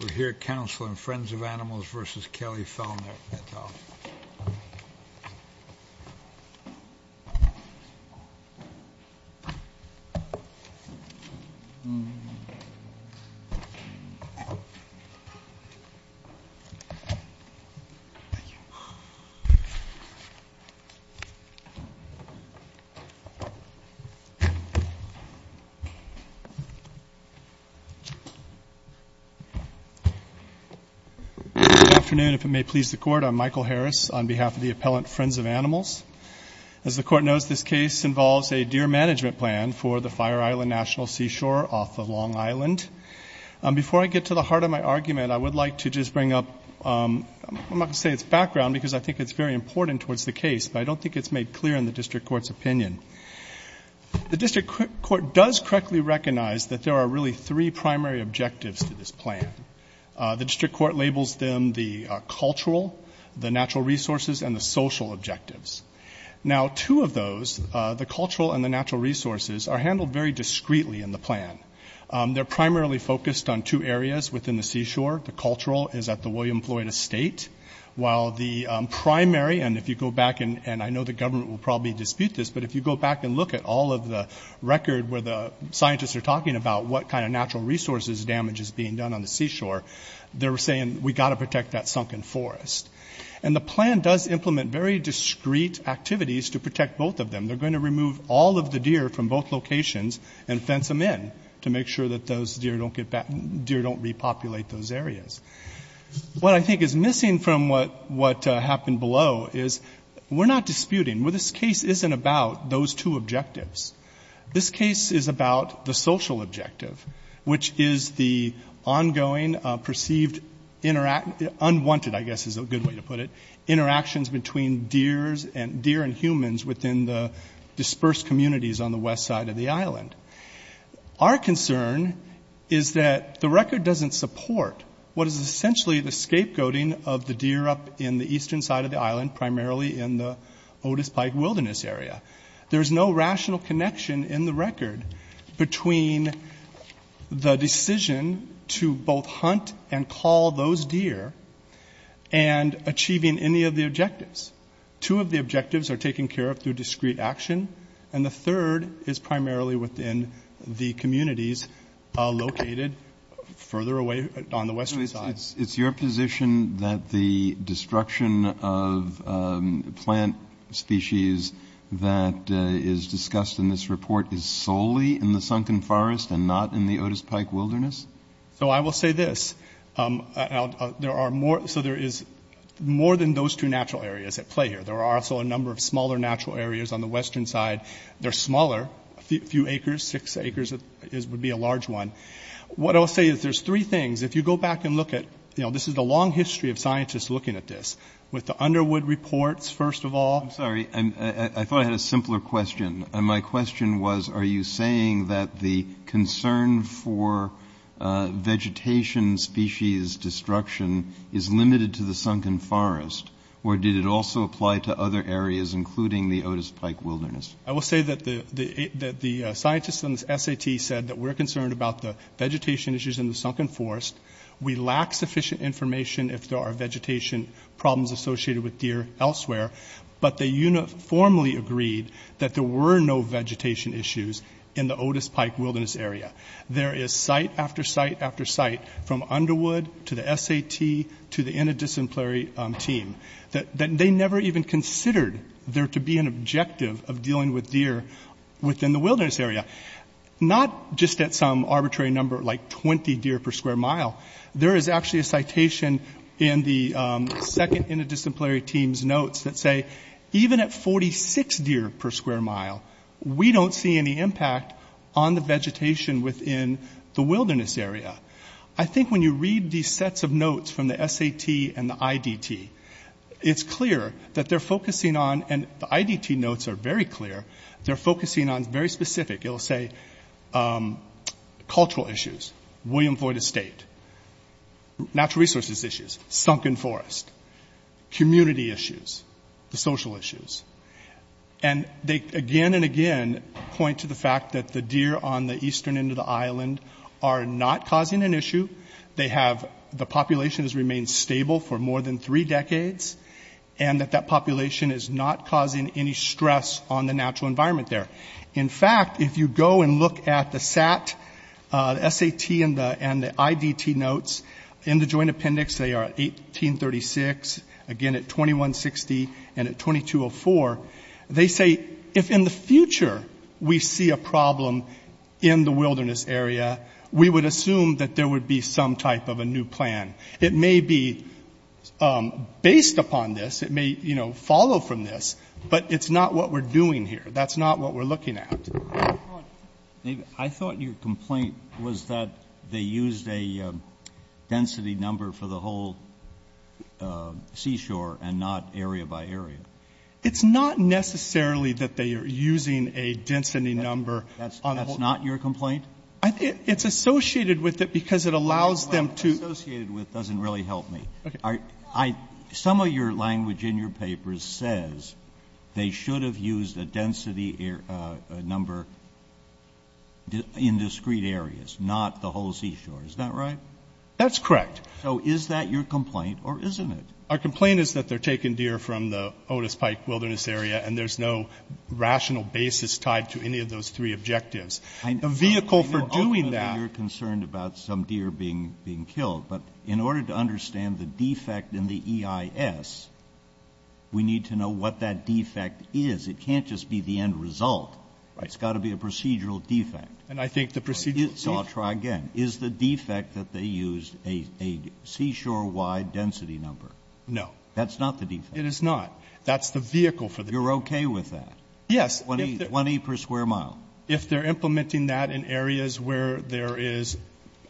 We're here counseling Friends of Animals v. Kelley Fellner. Michael Harris The District Court labels them the cultural, the natural resources, and the social objectives. Now, two of those, the cultural and the natural resources, are handled very discreetly in the plan. They're primarily focused on two areas within the seashore. The cultural is at the William Floyd Estate, while the primary, and if you go back, and I know the government will probably dispute this, but if you go back and look at all of the record where the scientists are talking about what kind of natural resources damage is being done on the seashore, they're saying we've got to protect that sunken forest. And the plan does implement very discreet activities to protect both of them. They're going to remove all of the deer from both locations and fence them in to make sure that those deer don't repopulate those areas. What I think is missing from what happened below is we're not disputing. Well, this case isn't about those two objectives. This case is about the social objective, which is the ongoing perceived unwanted, I guess is a good way to put it, interactions between deer and humans within the dispersed communities on the west side of the island. Our concern is that the record doesn't support what is essentially the scapegoating of the deer up in the eastern side of the island, primarily in the Otis Pike Wilderness area. There's no rational connection in the record between the decision to both hunt and call those deer and achieving any of the objectives. Two of the objectives are taken care of through discreet action, and the third is primarily within the communities located further away on the western side. It's your position that the destruction of plant species that is discussed in this report is solely in the Sunken Forest and not in the Otis Pike Wilderness? So I will say this. So there is more than those two natural areas at play here. There are also a number of smaller natural areas on the western side. They're smaller, a few acres, six acres would be a large one. What I'll say is there's three things. If you go back and look at, you know, this is a long history of scientists looking at this. With the Underwood reports, first of all. I'm sorry. I thought I had a simpler question, and my question was, are you saying that the concern for vegetation species destruction is limited to the Sunken Forest, or did it also apply to other areas, including the Otis Pike Wilderness? I will say that the scientists in the SAT said that we're concerned about the vegetation issues in the Sunken Forest. We lack sufficient information if there are vegetation problems associated with deer elsewhere, but they uniformly agreed that there were no vegetation issues in the Otis Pike Wilderness area. There is site after site after site, from Underwood to the SAT to the interdisciplinary team, that they never even considered there to be an objective of dealing with deer within the wilderness area, not just at some arbitrary number like 20 deer per square mile. There is actually a citation in the second interdisciplinary team's notes that say even at 46 deer per square mile, we don't see any impact on the vegetation within the wilderness area. I think when you read these sets of notes from the SAT and the IDT, it's clear that they're focusing on, and the IDT notes are very clear, they're focusing on very specific, it'll say cultural issues, William Floyd Estate, natural resources issues, Sunken Forest, community issues, the social issues. And they again and again point to the fact that the deer on the eastern end of the island are not causing an issue. They have, the population has remained stable for more than three decades, and that that population is not causing any stress on the natural environment there. In fact, if you go and look at the SAT, the SAT and the IDT notes in the joint appendix, they are 1836, again at 2160, and at 2204, they say if in the future we see a problem in the wilderness area, we would assume that there would be some type of a new plan. It may be based upon this. It may, you know, follow from this. But it's not what we're doing here. That's not what we're looking at. I thought your complaint was that they used a density number for the whole seashore and not area by area. It's not necessarily that they are using a density number. That's not your complaint? I think it's associated with it because it allows them to. The language associated with it doesn't really help me. Okay. Some of your language in your papers says they should have used a density number in discrete areas, not the whole seashore. Is that right? That's correct. So is that your complaint or isn't it? Our complaint is that they're taking deer from the Otis Pike Wilderness Area, and there's no rational basis tied to any of those three objectives. The vehicle for doing that. You're concerned about some deer being killed. But in order to understand the defect in the EIS, we need to know what that defect is. It can't just be the end result. Right. It's got to be a procedural defect. And I think the procedural defect. So I'll try again. Is the defect that they used a seashore-wide density number? No. That's not the defect? It is not. That's the vehicle for the EIS. You're okay with that? Yes. 20 per square mile. If they're implementing that in areas where there is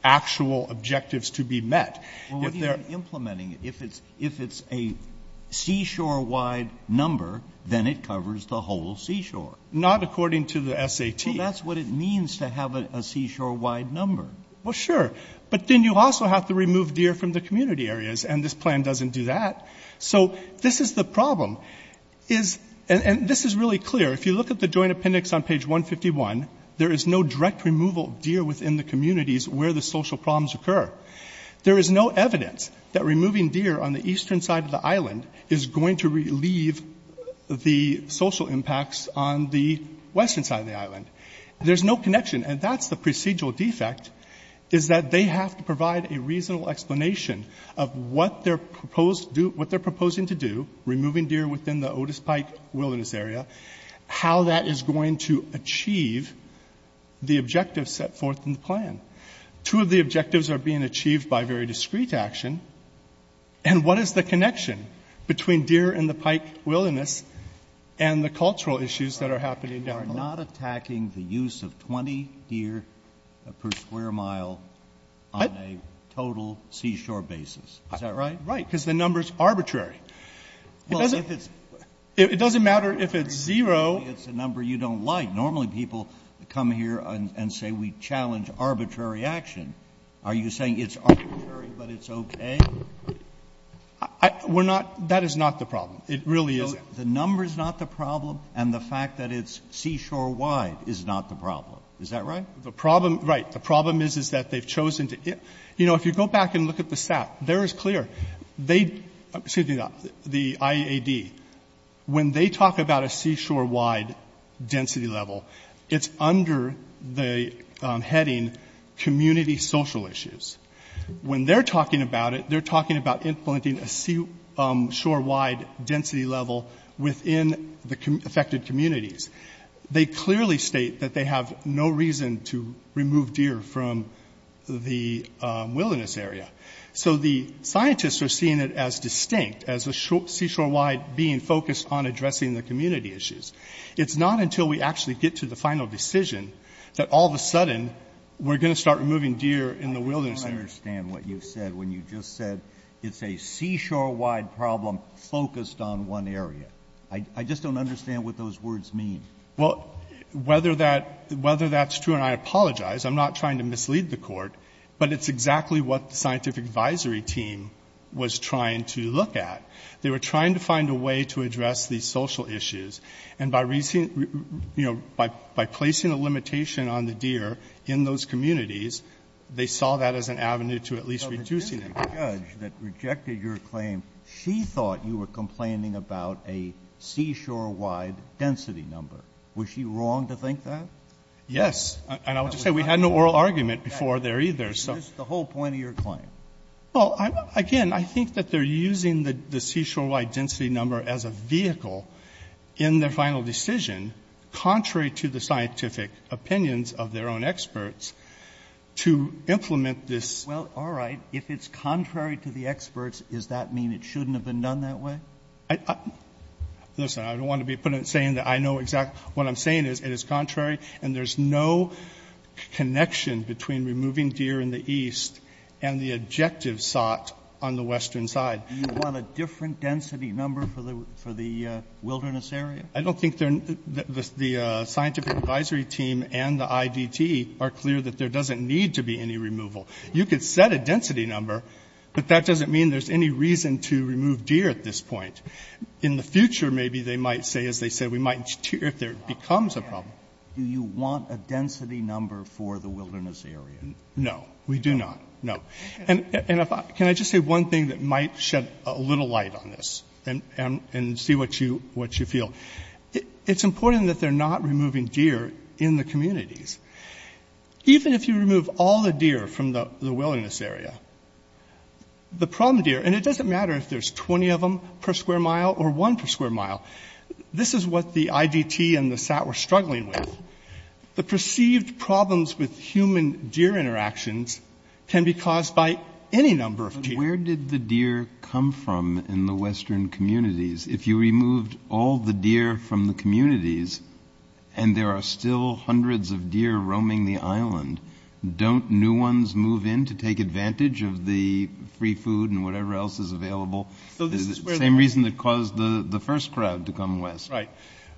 actual objectives to be met. Well, what do you mean implementing it? If it's a seashore-wide number, then it covers the whole seashore. Not according to the SAT. Well, that's what it means to have a seashore-wide number. Well, sure. But then you also have to remove deer from the community areas, and this plan doesn't do that. So this is the problem. And this is really clear. If you look at the joint appendix on page 151, there is no direct removal of deer within the communities where the social problems occur. There is no evidence that removing deer on the eastern side of the island is going to relieve the social impacts on the western side of the island. There's no connection. And that's the procedural defect, is that they have to provide a reasonable explanation of what they're proposing to do, removing deer within the Otis Pike wilderness area, how that is going to achieve the objectives set forth in the plan. Two of the objectives are being achieved by very discreet action. And what is the connection between deer in the Pike wilderness and the cultural issues that are happening down below? You are not attacking the use of 20 deer per square mile on a total seashore basis. Is that right? Right, because the number is arbitrary. It doesn't matter if it's zero. It's a number you don't like. Normally people come here and say we challenge arbitrary action. Are you saying it's arbitrary, but it's okay? We're not. That is not the problem. It really isn't. The number is not the problem, and the fact that it's seashore wide is not the problem. Is that right? The problem, right. The problem is, is that they've chosen to get you know, if you go back and look at the SAT, there is clear. They, excuse me, the IAD, when they talk about a seashore wide density level, it's under the heading community social issues. When they're talking about it, they're talking about implementing a seashore wide density level within the affected communities. They clearly state that they have no reason to remove deer from the wilderness area. So the scientists are seeing it as distinct, as the seashore wide being focused on addressing the community issues. It's not until we actually get to the final decision that all of a sudden we're going to start removing deer in the wilderness area. I don't understand what you said when you just said it's a seashore wide problem focused on one area. I just don't understand what those words mean. Well, whether that's true, and I apologize, I'm not trying to mislead the Court, but it's exactly what the scientific advisory team was trying to look at. They were trying to find a way to address these social issues, and by placing a limitation on the deer in those communities, they saw that as an avenue to at least reducing them. So the judge that rejected your claim, she thought you were complaining about a seashore wide density number. Was she wrong to think that? Yes. And I would just say we had no oral argument before there either, so. It's just the whole point of your claim. Well, again, I think that they're using the seashore wide density number as a vehicle in their final decision, contrary to the scientific opinions of their own experts, to implement this. Well, all right. If it's contrary to the experts, does that mean it shouldn't have been done that way? Listen, I don't want to be saying that I know exactly what I'm saying. It is contrary, and there's no connection between removing deer in the east and the objective sought on the western side. Do you want a different density number for the wilderness area? I don't think the scientific advisory team and the IDT are clear that there doesn't need to be any removal. You could set a density number, but that doesn't mean there's any reason to remove deer at this point. In the future, maybe they might say, as they said, we might, if there becomes a problem. Do you want a density number for the wilderness area? No. We do not. No. And can I just say one thing that might shed a little light on this and see what you feel? It's important that they're not removing deer in the communities. Even if you remove all the deer from the wilderness area, the problem deer, and it doesn't matter if there's 20 of them per square mile or one per square mile. This is what the IDT and the SAT were struggling with. The perceived problems with human-deer interactions can be caused by any number of deer. But where did the deer come from in the western communities? If you removed all the deer from the communities and there are still hundreds of deer roaming the island, don't new ones move in to take advantage of the free food and whatever else is available? The same reason that caused the first crowd to come west. Right.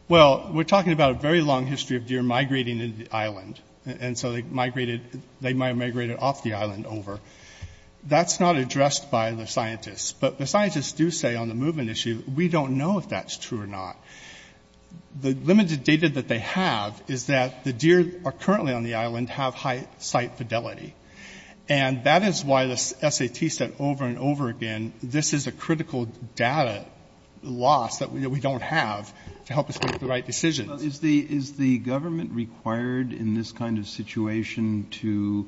Well, we're talking about a very long history of deer migrating into the island, and so they migrated off the island over. That's not addressed by the scientists. But the scientists do say on the movement issue, we don't know if that's true or not. The limited data that they have is that the deer that are currently on the island have high sight fidelity. And that is why the SAT said over and over again, this is a critical data loss that we don't have to help us make the right decisions. Is the government required in this kind of situation to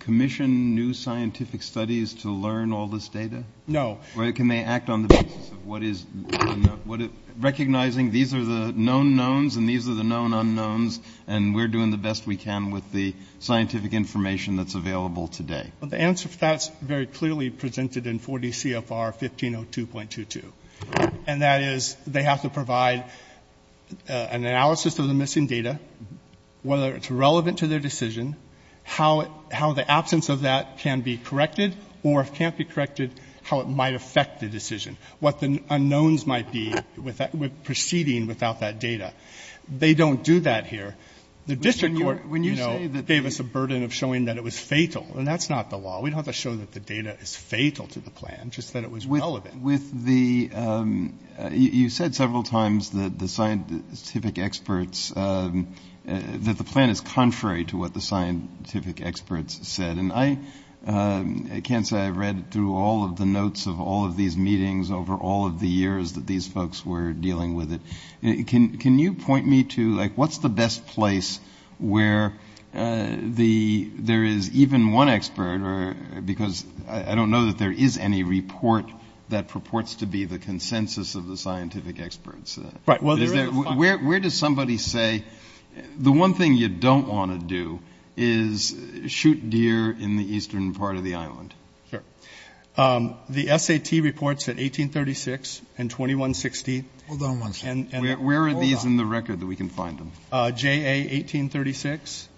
commission new scientific studies to learn all this data? No. Can they act on the basis of recognizing these are the known knowns and these are the known unknowns, and we're doing the best we can with the scientific information that's available today? The answer to that is very clearly presented in 4D CFR 1502.22. And that is they have to provide an analysis of the missing data, whether it's relevant to their decision, how the absence of that can be corrected, or if it can't be corrected, how it might affect the decision, what the unknowns might be proceeding without that data. They don't do that here. The district court, you know, gave us a burden of showing that it was fatal. And that's not the law. We don't have to show that the data is fatal to the plan, just that it was relevant. You said several times that the plan is contrary to what the scientific experts said. And I can't say I read through all of the notes of all of these meetings over all of the years that these folks were dealing with it. Can you point me to, like, what's the best place where there is even one expert, because I don't know that there is any report that purports to be the consensus of the scientific experts. Right. Where does somebody say, the one thing you don't want to do is shoot deer in the eastern part of the island? Sure. The SAT reports at 1836 and 2160. Hold on one second. Where are these in the record that we can find them? J.A. 1836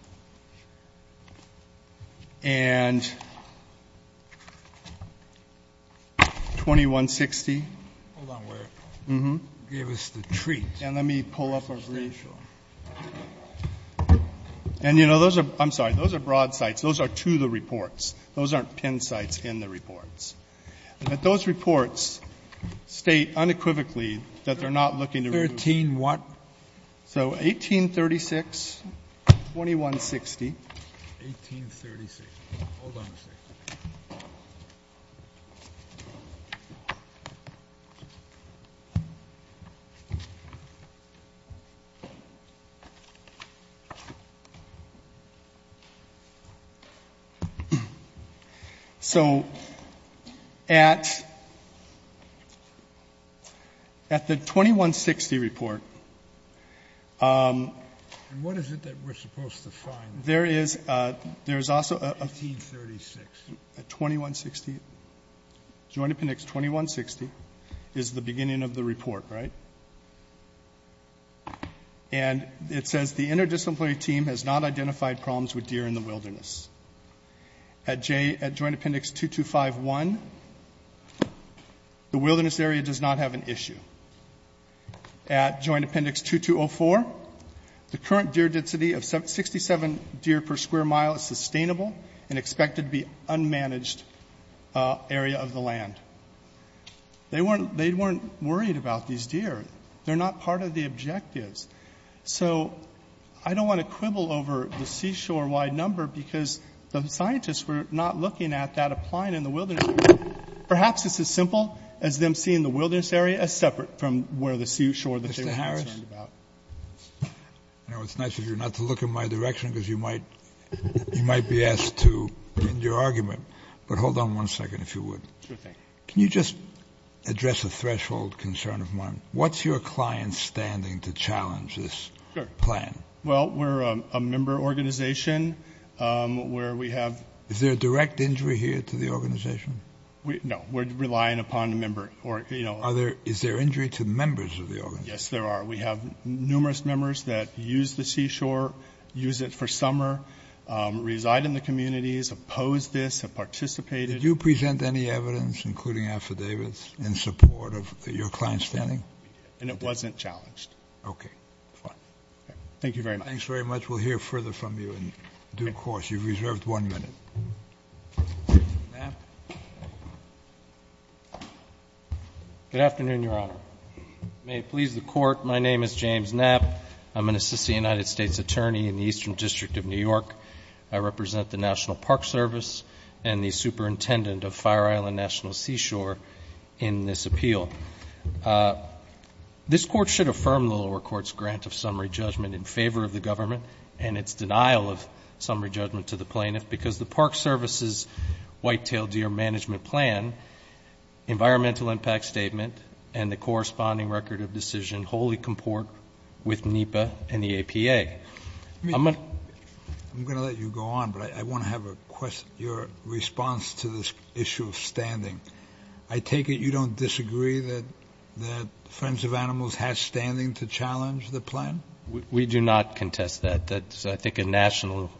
and 2160. Hold on. Give us the treat. And let me pull up our briefs. And, you know, those are, I'm sorry, those are broad sites. Those are to the reports. Those aren't pin sites in the reports. But those reports state unequivocally that they're not looking to remove. 13-what? So 1836, 2160. 1836. Hold on a second. So at the 2160 report. And what is it that we're supposed to find? There is also a- 1836. 2160. Joint appendix 2160 is the beginning of the report, right? And it says the interdisciplinary team has not identified problems with deer in the wilderness. At joint appendix 2251, the wilderness area does not have an issue. At joint appendix 2204, the current deer density of 67 deer per square mile is sustainable and expected to be unmanaged area of the land. They weren't worried about these deer. They're not part of the objectives. So I don't want to quibble over the seashore-wide number because the scientists were not looking at that applying in the wilderness. Perhaps it's as simple as them seeing the wilderness area as separate from where the seashore- Mr. Harris? You know, it's nice of you not to look in my direction because you might be asked to end your argument. But hold on one second, if you would. Sure thing. Can you just address a threshold concern of mine? What's your client's standing to challenge this plan? Well, we're a member organization where we have- Is there a direct injury here to the organization? No, we're relying upon a member. Is there injury to members of the organization? Yes, there are. We have numerous members that use the seashore, use it for summer, reside in the communities, oppose this, have participated. Did you present any evidence, including affidavits, in support of your client's standing? And it wasn't challenged. Okay. Thank you very much. Thanks very much. We'll hear further from you in due course. You've reserved one minute. Knapp? Good afternoon, Your Honor. May it please the Court, my name is James Knapp. I'm an assistant United States attorney in the Eastern District of New York. I represent the National Park Service and the superintendent of Fire Island National Seashore in this appeal. This Court should affirm the lower court's grant of summary judgment in favor of the government and its denial of summary judgment to the plaintiff because the Park Service's Whitetail Deer Management Plan environmental impact statement and the corresponding record of decision wholly comport with NEPA and the APA. I'm going to let you go on, but I want to have your response to this issue of standing. I take it you don't disagree that Friends of Animals has standing to challenge the plan? We do not contest that. That's, I think, a national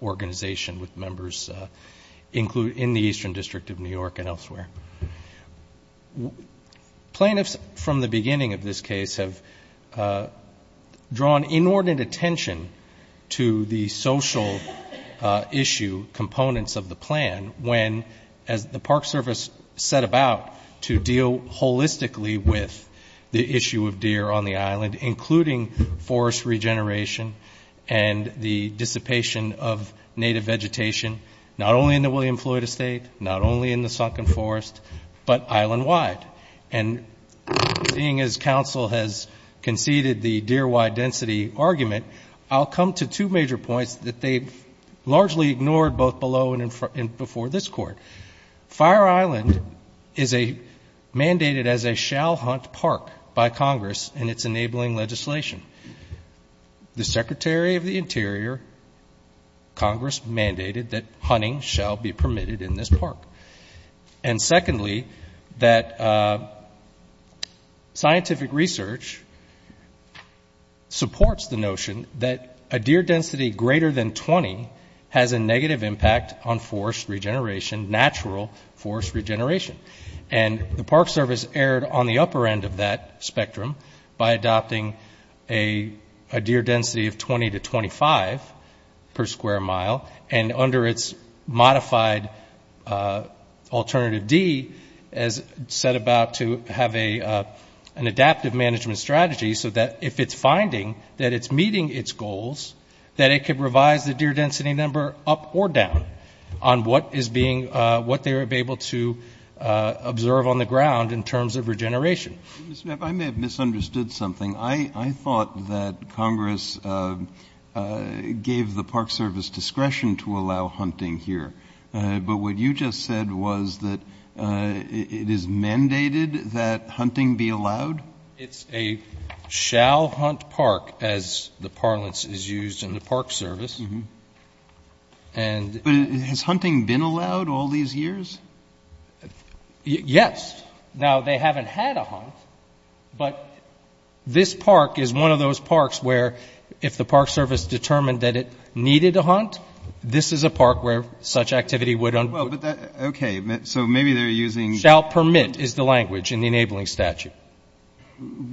organization with members in the Eastern District of New York and elsewhere. Plaintiffs from the beginning of this case have drawn inordinate attention to the social issue components of the plan when, as the Park Service set about to deal holistically with the issue of deer on the island, including forest regeneration and the dissipation of native vegetation, not only in the William Floyd Estate, not only in the Sunken Forest, but island-wide. And seeing as counsel has conceded the deer-wide density argument, I'll come to two major points that they've largely ignored both below and before this Court. Fire Island is mandated as a shall-hunt park by Congress in its enabling legislation. The Secretary of the Interior, Congress, mandated that hunting shall be permitted in this park. And secondly, that scientific research supports the notion that a deer density greater than 20 has a negative impact on forest regeneration, natural forest regeneration. And the Park Service erred on the upper end of that spectrum by adopting a deer density of 20 to 25 per square mile. And under its modified Alternative D, as set about to have an adaptive management strategy, so that if it's finding that it's meeting its goals, that it could revise the deer density number up or down on what they would be able to observe on the ground in terms of regeneration. I may have misunderstood something. I thought that Congress gave the Park Service discretion to allow hunting here. But what you just said was that it is mandated that hunting be allowed? It's a shall-hunt park, as the parlance is used in the Park Service. And — But has hunting been allowed all these years? Yes. Now, they haven't had a hunt. But this park is one of those parks where if the Park Service determined that it needed a hunt, this is a park where such activity would — Well, but that — okay. So maybe they're using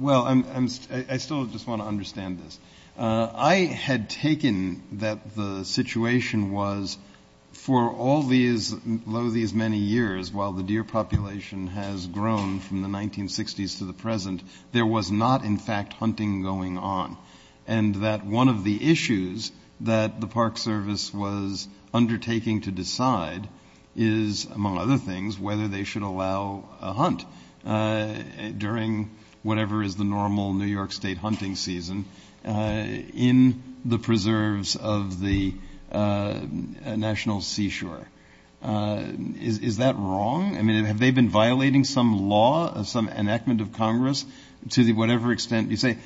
— Well, I still just want to understand this. I had taken that the situation was for all these — though these many years, while the deer population has grown from the 1960s to the present, there was not, in fact, hunting going on, and that one of the issues that the Park Service was undertaking to decide is, among other things, whether they should allow a hunt during whatever is the normal New York State hunting season in the preserves of the National Seashore. Is that wrong? I mean, have they been violating some law, some enactment of Congress, to whatever extent? You say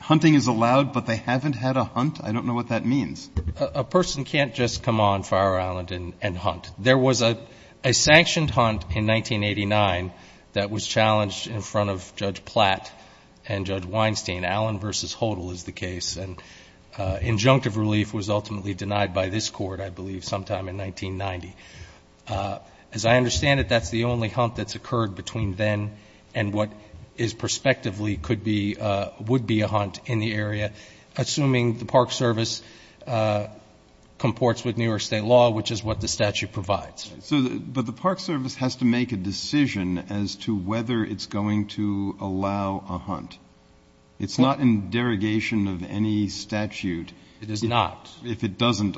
hunting is allowed, but they haven't had a hunt? I don't know what that means. A person can't just come on Fire Island and hunt. There was a sanctioned hunt in 1989 that was challenged in front of Judge Platt and Judge Weinstein. Allen v. Hodel is the case. And injunctive relief was ultimately denied by this Court, I believe, sometime in 1990. As I understand it, that's the only hunt that's occurred between then and what is prospectively could be — would be a hunt in the area, assuming the Park Service comports with New York State law, which is what the statute provides. But the Park Service has to make a decision as to whether it's going to allow a hunt. It's not in derogation of any statute. It is not. If it doesn't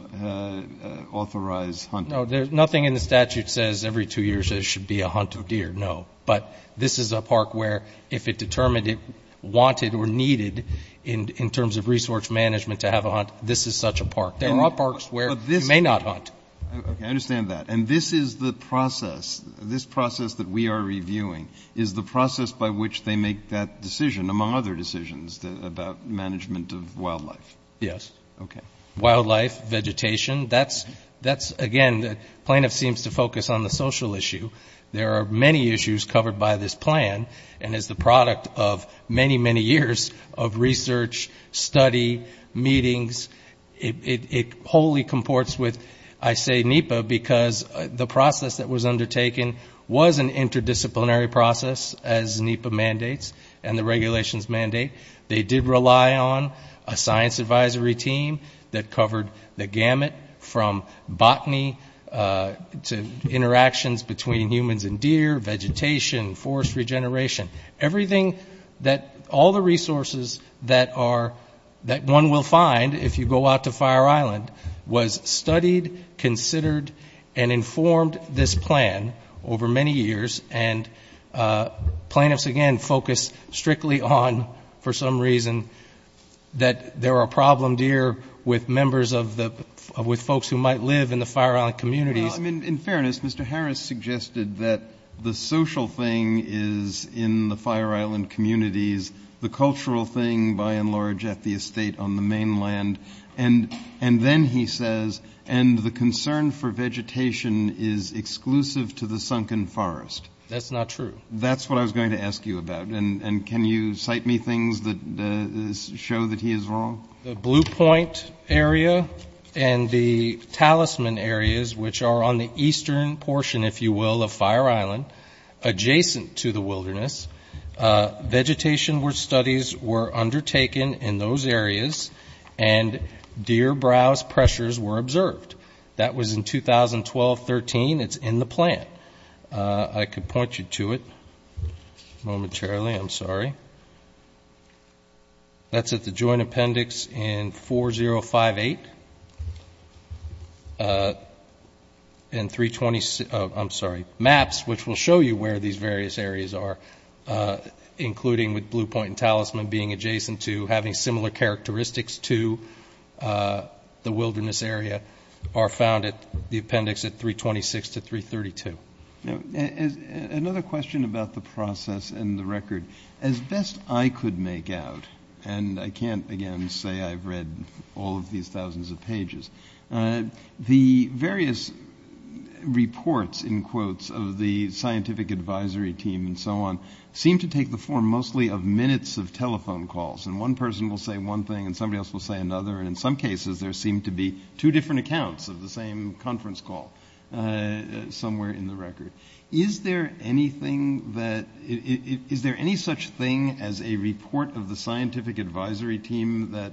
authorize hunting. No, nothing in the statute says every two years there should be a hunt of deer, no. But this is a park where if it determined it wanted or needed, in terms of resource management, to have a hunt, this is such a park. There are parks where you may not hunt. Okay, I understand that. And this is the process, this process that we are reviewing, is the process by which they make that decision, among other decisions, about management of wildlife. Yes. Okay. Wildlife, vegetation, that's — again, the plaintiff seems to focus on the social issue. There are many issues covered by this plan. And as the product of many, many years of research, study, meetings, it wholly comports with, I say, NEPA, because the process that was undertaken was an interdisciplinary process, as NEPA mandates and the regulations mandate. They did rely on a science advisory team that covered the gamut from botany to interactions between humans and deer, vegetation, forest regeneration. Everything that — all the resources that are — that one will find if you go out to Fire Island was studied, considered, and informed this plan over many years. And plaintiffs, again, focus strictly on, for some reason, that there are problem deer with members of the — with folks who might live in the Fire Island communities. Well, I mean, in fairness, Mr. Harris suggested that the social thing is in the Fire Island communities, the cultural thing, by and large, at the estate on the mainland. And then he says, and the concern for vegetation is exclusive to the sunken forest. That's not true. That's what I was going to ask you about. And can you cite me things that show that he is wrong? The Blue Point area and the talisman areas, which are on the eastern portion, if you will, of Fire Island, adjacent to the wilderness, vegetation studies were undertaken in those areas, and deer browse pressures were observed. That was in 2012-13. It's in the plan. I could point you to it momentarily. I'm sorry. Okay. That's at the joint appendix in 4058. And 320 — oh, I'm sorry, maps, which will show you where these various areas are, including with Blue Point and talisman being adjacent to having similar characteristics to the wilderness area, are found at the appendix at 326 to 332. Another question about the process and the record. As best I could make out, and I can't, again, say I've read all of these thousands of pages, the various reports, in quotes, of the scientific advisory team and so on seem to take the form mostly of minutes of telephone calls. And one person will say one thing and somebody else will say another. And in some cases there seem to be two different accounts of the same conference call somewhere in the record. Is there any such thing as a report of the scientific advisory team that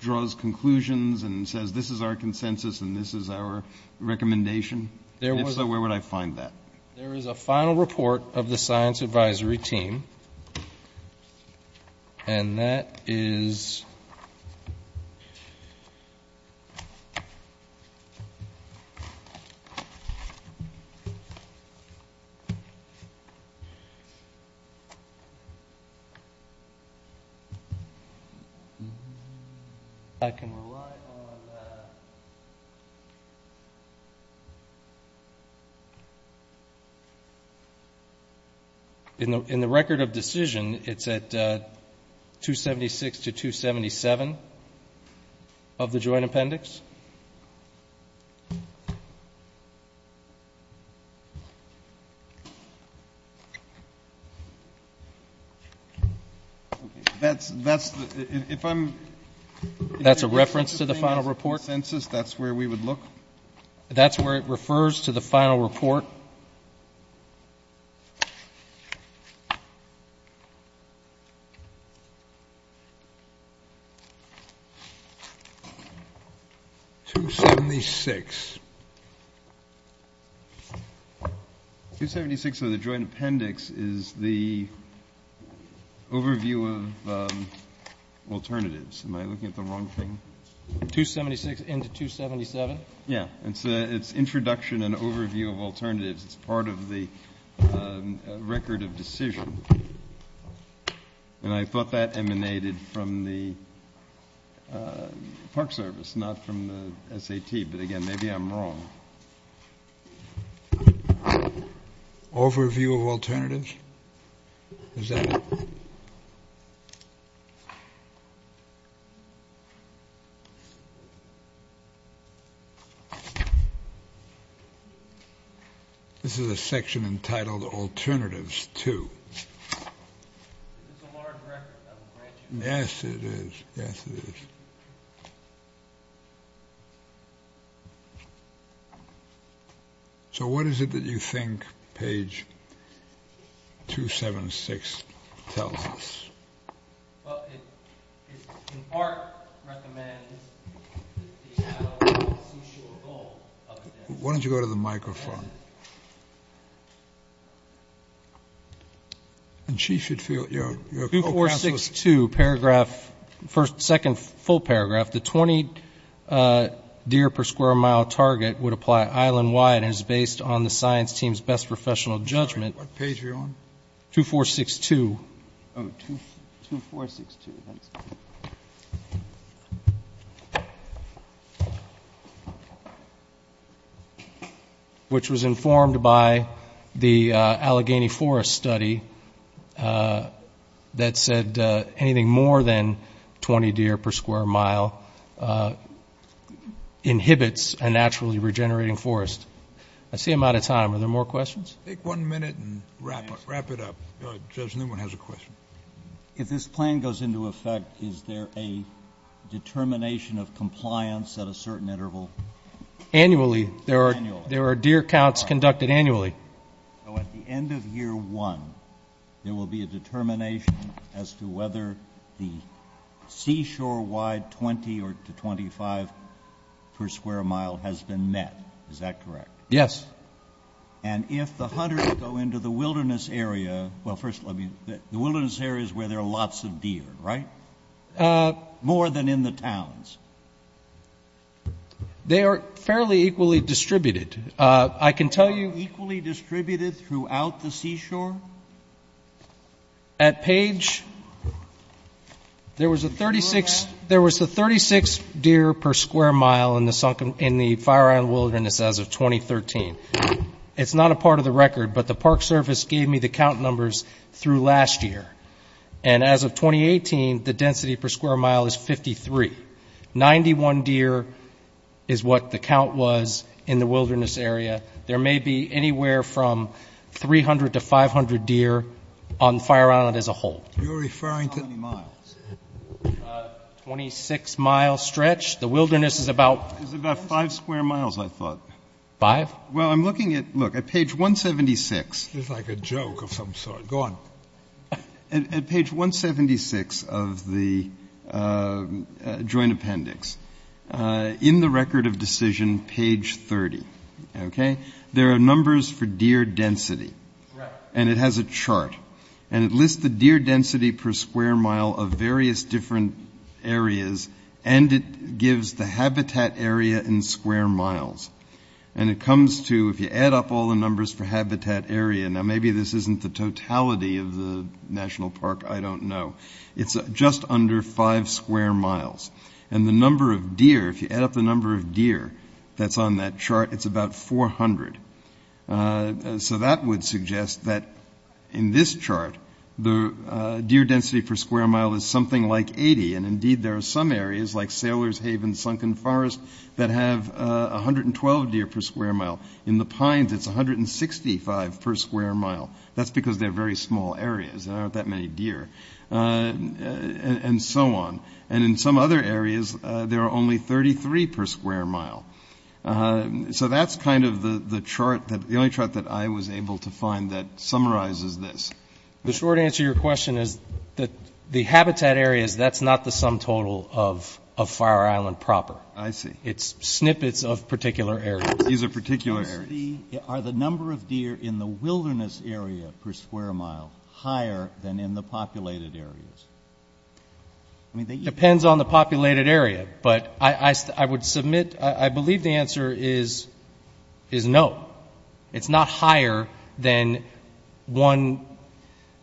draws conclusions and says this is our consensus and this is our recommendation? If so, where would I find that? There is a final report of the science advisory team, and that is — I can rely on that. In the record of decision, it's at 276 to 277 of the joint appendix. That's a reference to the final report? If I'm — That's a reference to the final report? — consensus, that's where we would look? That's where it refers to the final report? 276. 276 of the joint appendix is the overview of alternatives. Am I looking at the wrong thing? 276 into 277? Yeah. It's introduction and overview of alternatives. It's part of the record of decision. And I thought that emanated from the Park Service, not from the SAT. But, again, maybe I'm wrong. Overview of alternatives? Is that it? This is a section entitled alternatives to. It's a large record. Yes, it is. Yes, it is. So what is it that you think page 276 tells us? Why don't you go to the microphone? Go to the microphone. And she should feel your — 2462, second full paragraph. The 20 deer per square mile target would apply island-wide and is based on the science team's best professional judgment. Sorry, what page are you on? 2462. Oh, 2462. Thanks. Which was informed by the Allegheny Forest study that said anything more than 20 deer per square mile inhibits a naturally regenerating forest. I see I'm out of time. Are there more questions? Take one minute and wrap it up. Judge Newman has a question. If this plan goes into effect, is there a determination of compliance at a certain interval? Annually. There are deer counts conducted annually. So at the end of year one, there will be a determination as to whether the seashore-wide 20 or 25 per square mile has been met. Is that correct? Yes. And if the hunters go into the wilderness area, well, first let me — the wilderness area is where there are lots of deer, right? More than in the towns. They are fairly equally distributed. I can tell you — Equally distributed throughout the seashore? At Page, there was a 36 deer per square mile in the Fire Island Wilderness as of 2013. It's not a part of the record, but the Park Service gave me the count numbers through last year. And as of 2018, the density per square mile is 53. Ninety-one deer is what the count was in the wilderness area. There may be anywhere from 300 to 500 deer on Fire Island as a whole. You're referring to — How many miles? 26-mile stretch. The wilderness is about — It's about five square miles, I thought. Five? Well, I'm looking at — look, at Page 176 — This is like a joke of some sort. Go on. At Page 176 of the Joint Appendix, in the record of decision, Page 30, okay, there are numbers for deer density. Correct. And it has a chart. And it lists the deer density per square mile of various different areas, and it gives the habitat area in square miles. And it comes to, if you add up all the numbers for habitat area — Now, maybe this isn't the totality of the national park. I don't know. It's just under five square miles. And the number of deer, if you add up the number of deer that's on that chart, it's about 400. So that would suggest that in this chart, the deer density per square mile is something like 80. And, indeed, there are some areas, like Sailor's Haven, Sunken Forest, that have 112 deer per square mile. In the pines, it's 165 per square mile. That's because they're very small areas. There aren't that many deer. And so on. And in some other areas, there are only 33 per square mile. So that's kind of the chart that — the only chart that I was able to find that summarizes this. The short answer to your question is that the habitat areas, that's not the sum total of Fire Island proper. I see. It's snippets of particular areas. These are particular areas. Are the number of deer in the wilderness area per square mile higher than in the populated areas? It depends on the populated area. But I would submit — I believe the answer is no. It's not higher than one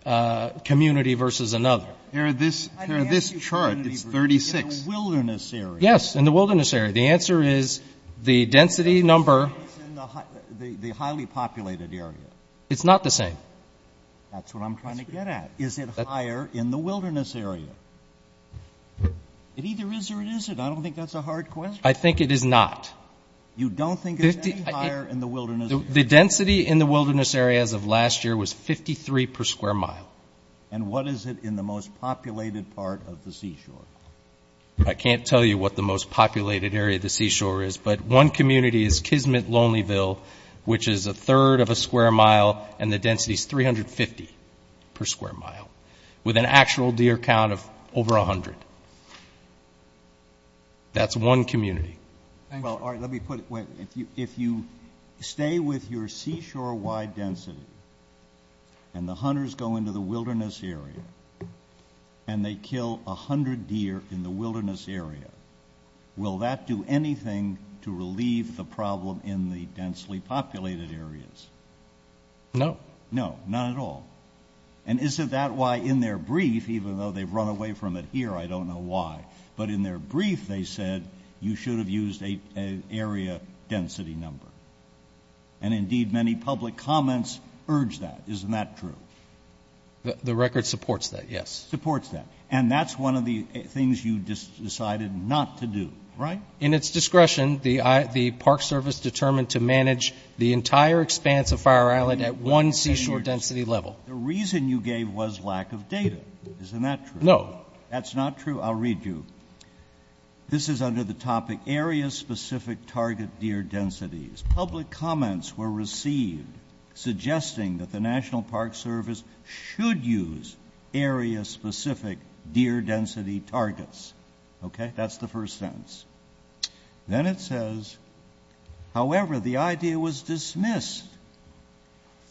community versus another. Here are this chart. It's 36. In the wilderness area. Yes, in the wilderness area. The answer is the density number — It's in the highly populated area. It's not the same. That's what I'm trying to get at. Is it higher in the wilderness area? It either is or it isn't. I don't think that's a hard question. I think it is not. You don't think it's any higher in the wilderness area? The density in the wilderness areas of last year was 53 per square mile. And what is it in the most populated part of the seashore? I can't tell you what the most populated area of the seashore is, but one community is Kismet-Lonelyville, which is a third of a square mile, and the density is 350 per square mile, with an actual deer count of over 100. That's one community. Well, all right, let me put it this way. If you stay with your seashore-wide density and the hunters go into the wilderness area and they kill 100 deer in the wilderness area, will that do anything to relieve the problem in the densely populated areas? No. No, not at all. And is it that why in their brief, even though they've run away from it here, I don't know why, but in their brief they said you should have used an area density number. And, indeed, many public comments urge that. Isn't that true? The record supports that, yes. Supports that. And that's one of the things you decided not to do, right? In its discretion, the Park Service determined to manage the entire expanse of Fire Island at one seashore density level. The reason you gave was lack of data. Isn't that true? No. That's not true? I'll read you. This is under the topic area-specific target deer densities. Public comments were received suggesting that the National Park Service should use area-specific deer density targets. Okay? That's the first sentence. Then it says, however, the idea was dismissed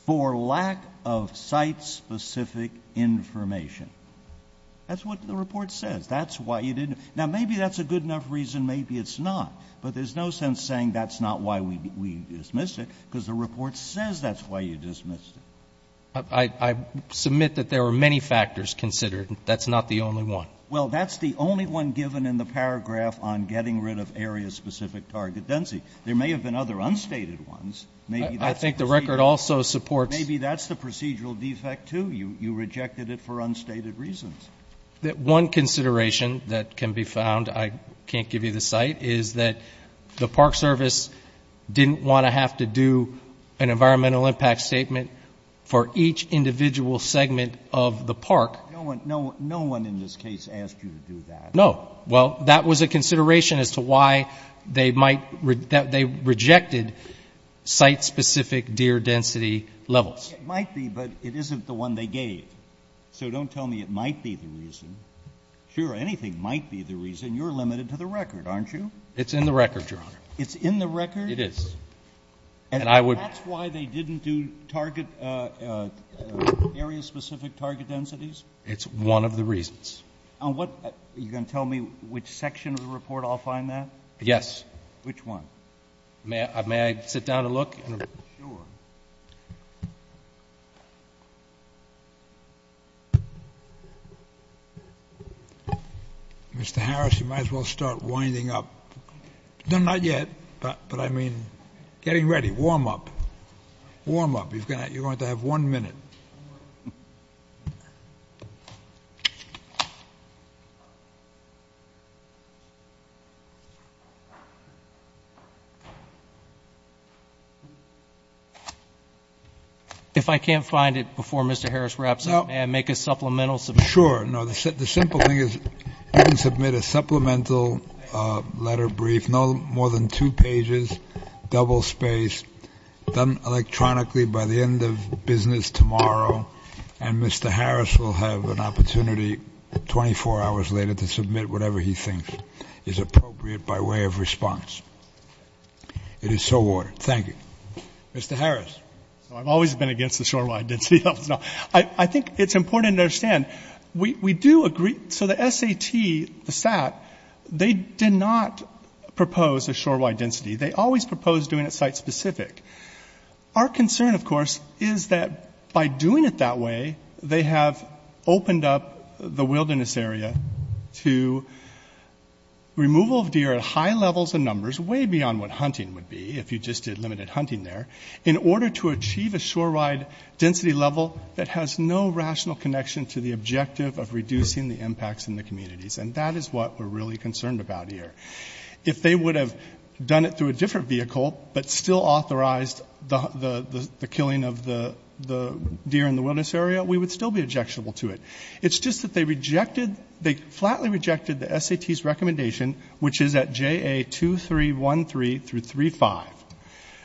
for lack of site-specific information. That's what the report says. That's why you didn't. Now, maybe that's a good enough reason. Maybe it's not. But there's no sense saying that's not why we dismissed it because the report says that's why you dismissed it. I submit that there were many factors considered. That's not the only one. Well, that's the only one given in the paragraph on getting rid of area-specific target density. There may have been other unstated ones. I think the record also supports. Maybe that's the procedural defect, too. You rejected it for unstated reasons. One consideration that can be found, I can't give you the site, is that the Park Service didn't want to have to do an environmental impact statement for each individual segment of the park. No one in this case asked you to do that. No. Well, that was a consideration as to why they might — they rejected site-specific deer density levels. It might be, but it isn't the one they gave. So don't tell me it might be the reason. Sure, anything might be the reason. You're limited to the record, aren't you? It's in the record, Your Honor. It's in the record? It is. And that's why they didn't do target — area-specific target densities? It's one of the reasons. Are you going to tell me which section of the report I'll find that? Yes. Which one? May I sit down to look? Sure. Mr. Harris, you might as well start winding up. No, not yet. But, I mean, getting ready. Warm up. Warm up. You're going to have one minute. If I can't find it before Mr. Harris wraps up, may I make a supplemental — Sure. No, the simple thing is you can submit a supplemental letter brief, no more than two pages, double-spaced, done electronically by the end of business tomorrow, and Mr. Harris will have an opportunity 24 hours later to submit whatever he thinks is appropriate by way of response. It is so ordered. Thank you. Mr. Harris. I've always been against the shore-wide density. I think it's important to understand. We do agree — so the SAT, the SAT, they did not propose a shore-wide density. They always proposed doing it site-specific. Our concern, of course, is that by doing it that way, they have opened up the wilderness area to removal of deer at high levels and numbers, way beyond what hunting would be if you just did limited hunting there, in order to achieve a shore-wide density level that has no rational connection to the objective of reducing the impacts in the communities. And that is what we're really concerned about here. If they would have done it through a different vehicle but still authorized the killing of the deer in the wilderness area, we would still be objectionable to it. It's just that they rejected — they flatly rejected the SAT's recommendation, which is at JA2313 through 35,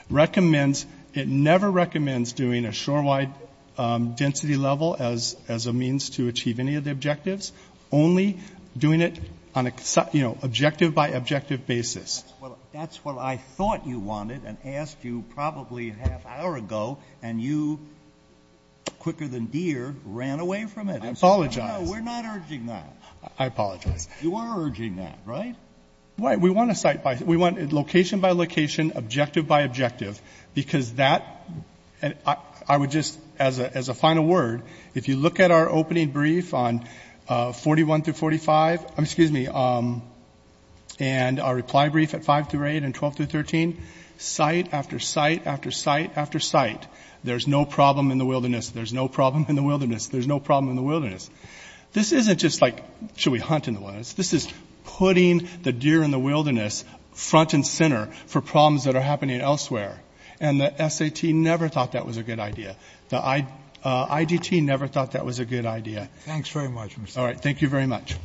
recommends — it never recommends doing a shore-wide density level as a means to achieve any of the objectives, only doing it on an objective-by-objective basis. That's what I thought you wanted and asked you probably a half hour ago, and you, quicker than deer, ran away from it. I apologize. No, we're not urging that. I apologize. You are urging that, right? We want location-by-location, objective-by-objective, because that — I would just, as a final word, if you look at our opening brief on 41 through 45 — excuse me — and our reply brief at 5 through 8 and 12 through 13, site after site after site after site, there's no problem in the wilderness. There's no problem in the wilderness. There's no problem in the wilderness. This isn't just like, should we hunt in the wilderness? This is putting the deer in the wilderness front and center for problems that are happening elsewhere. And the SAT never thought that was a good idea. The IDT never thought that was a good idea. Thanks very much. All right. Thank you very much.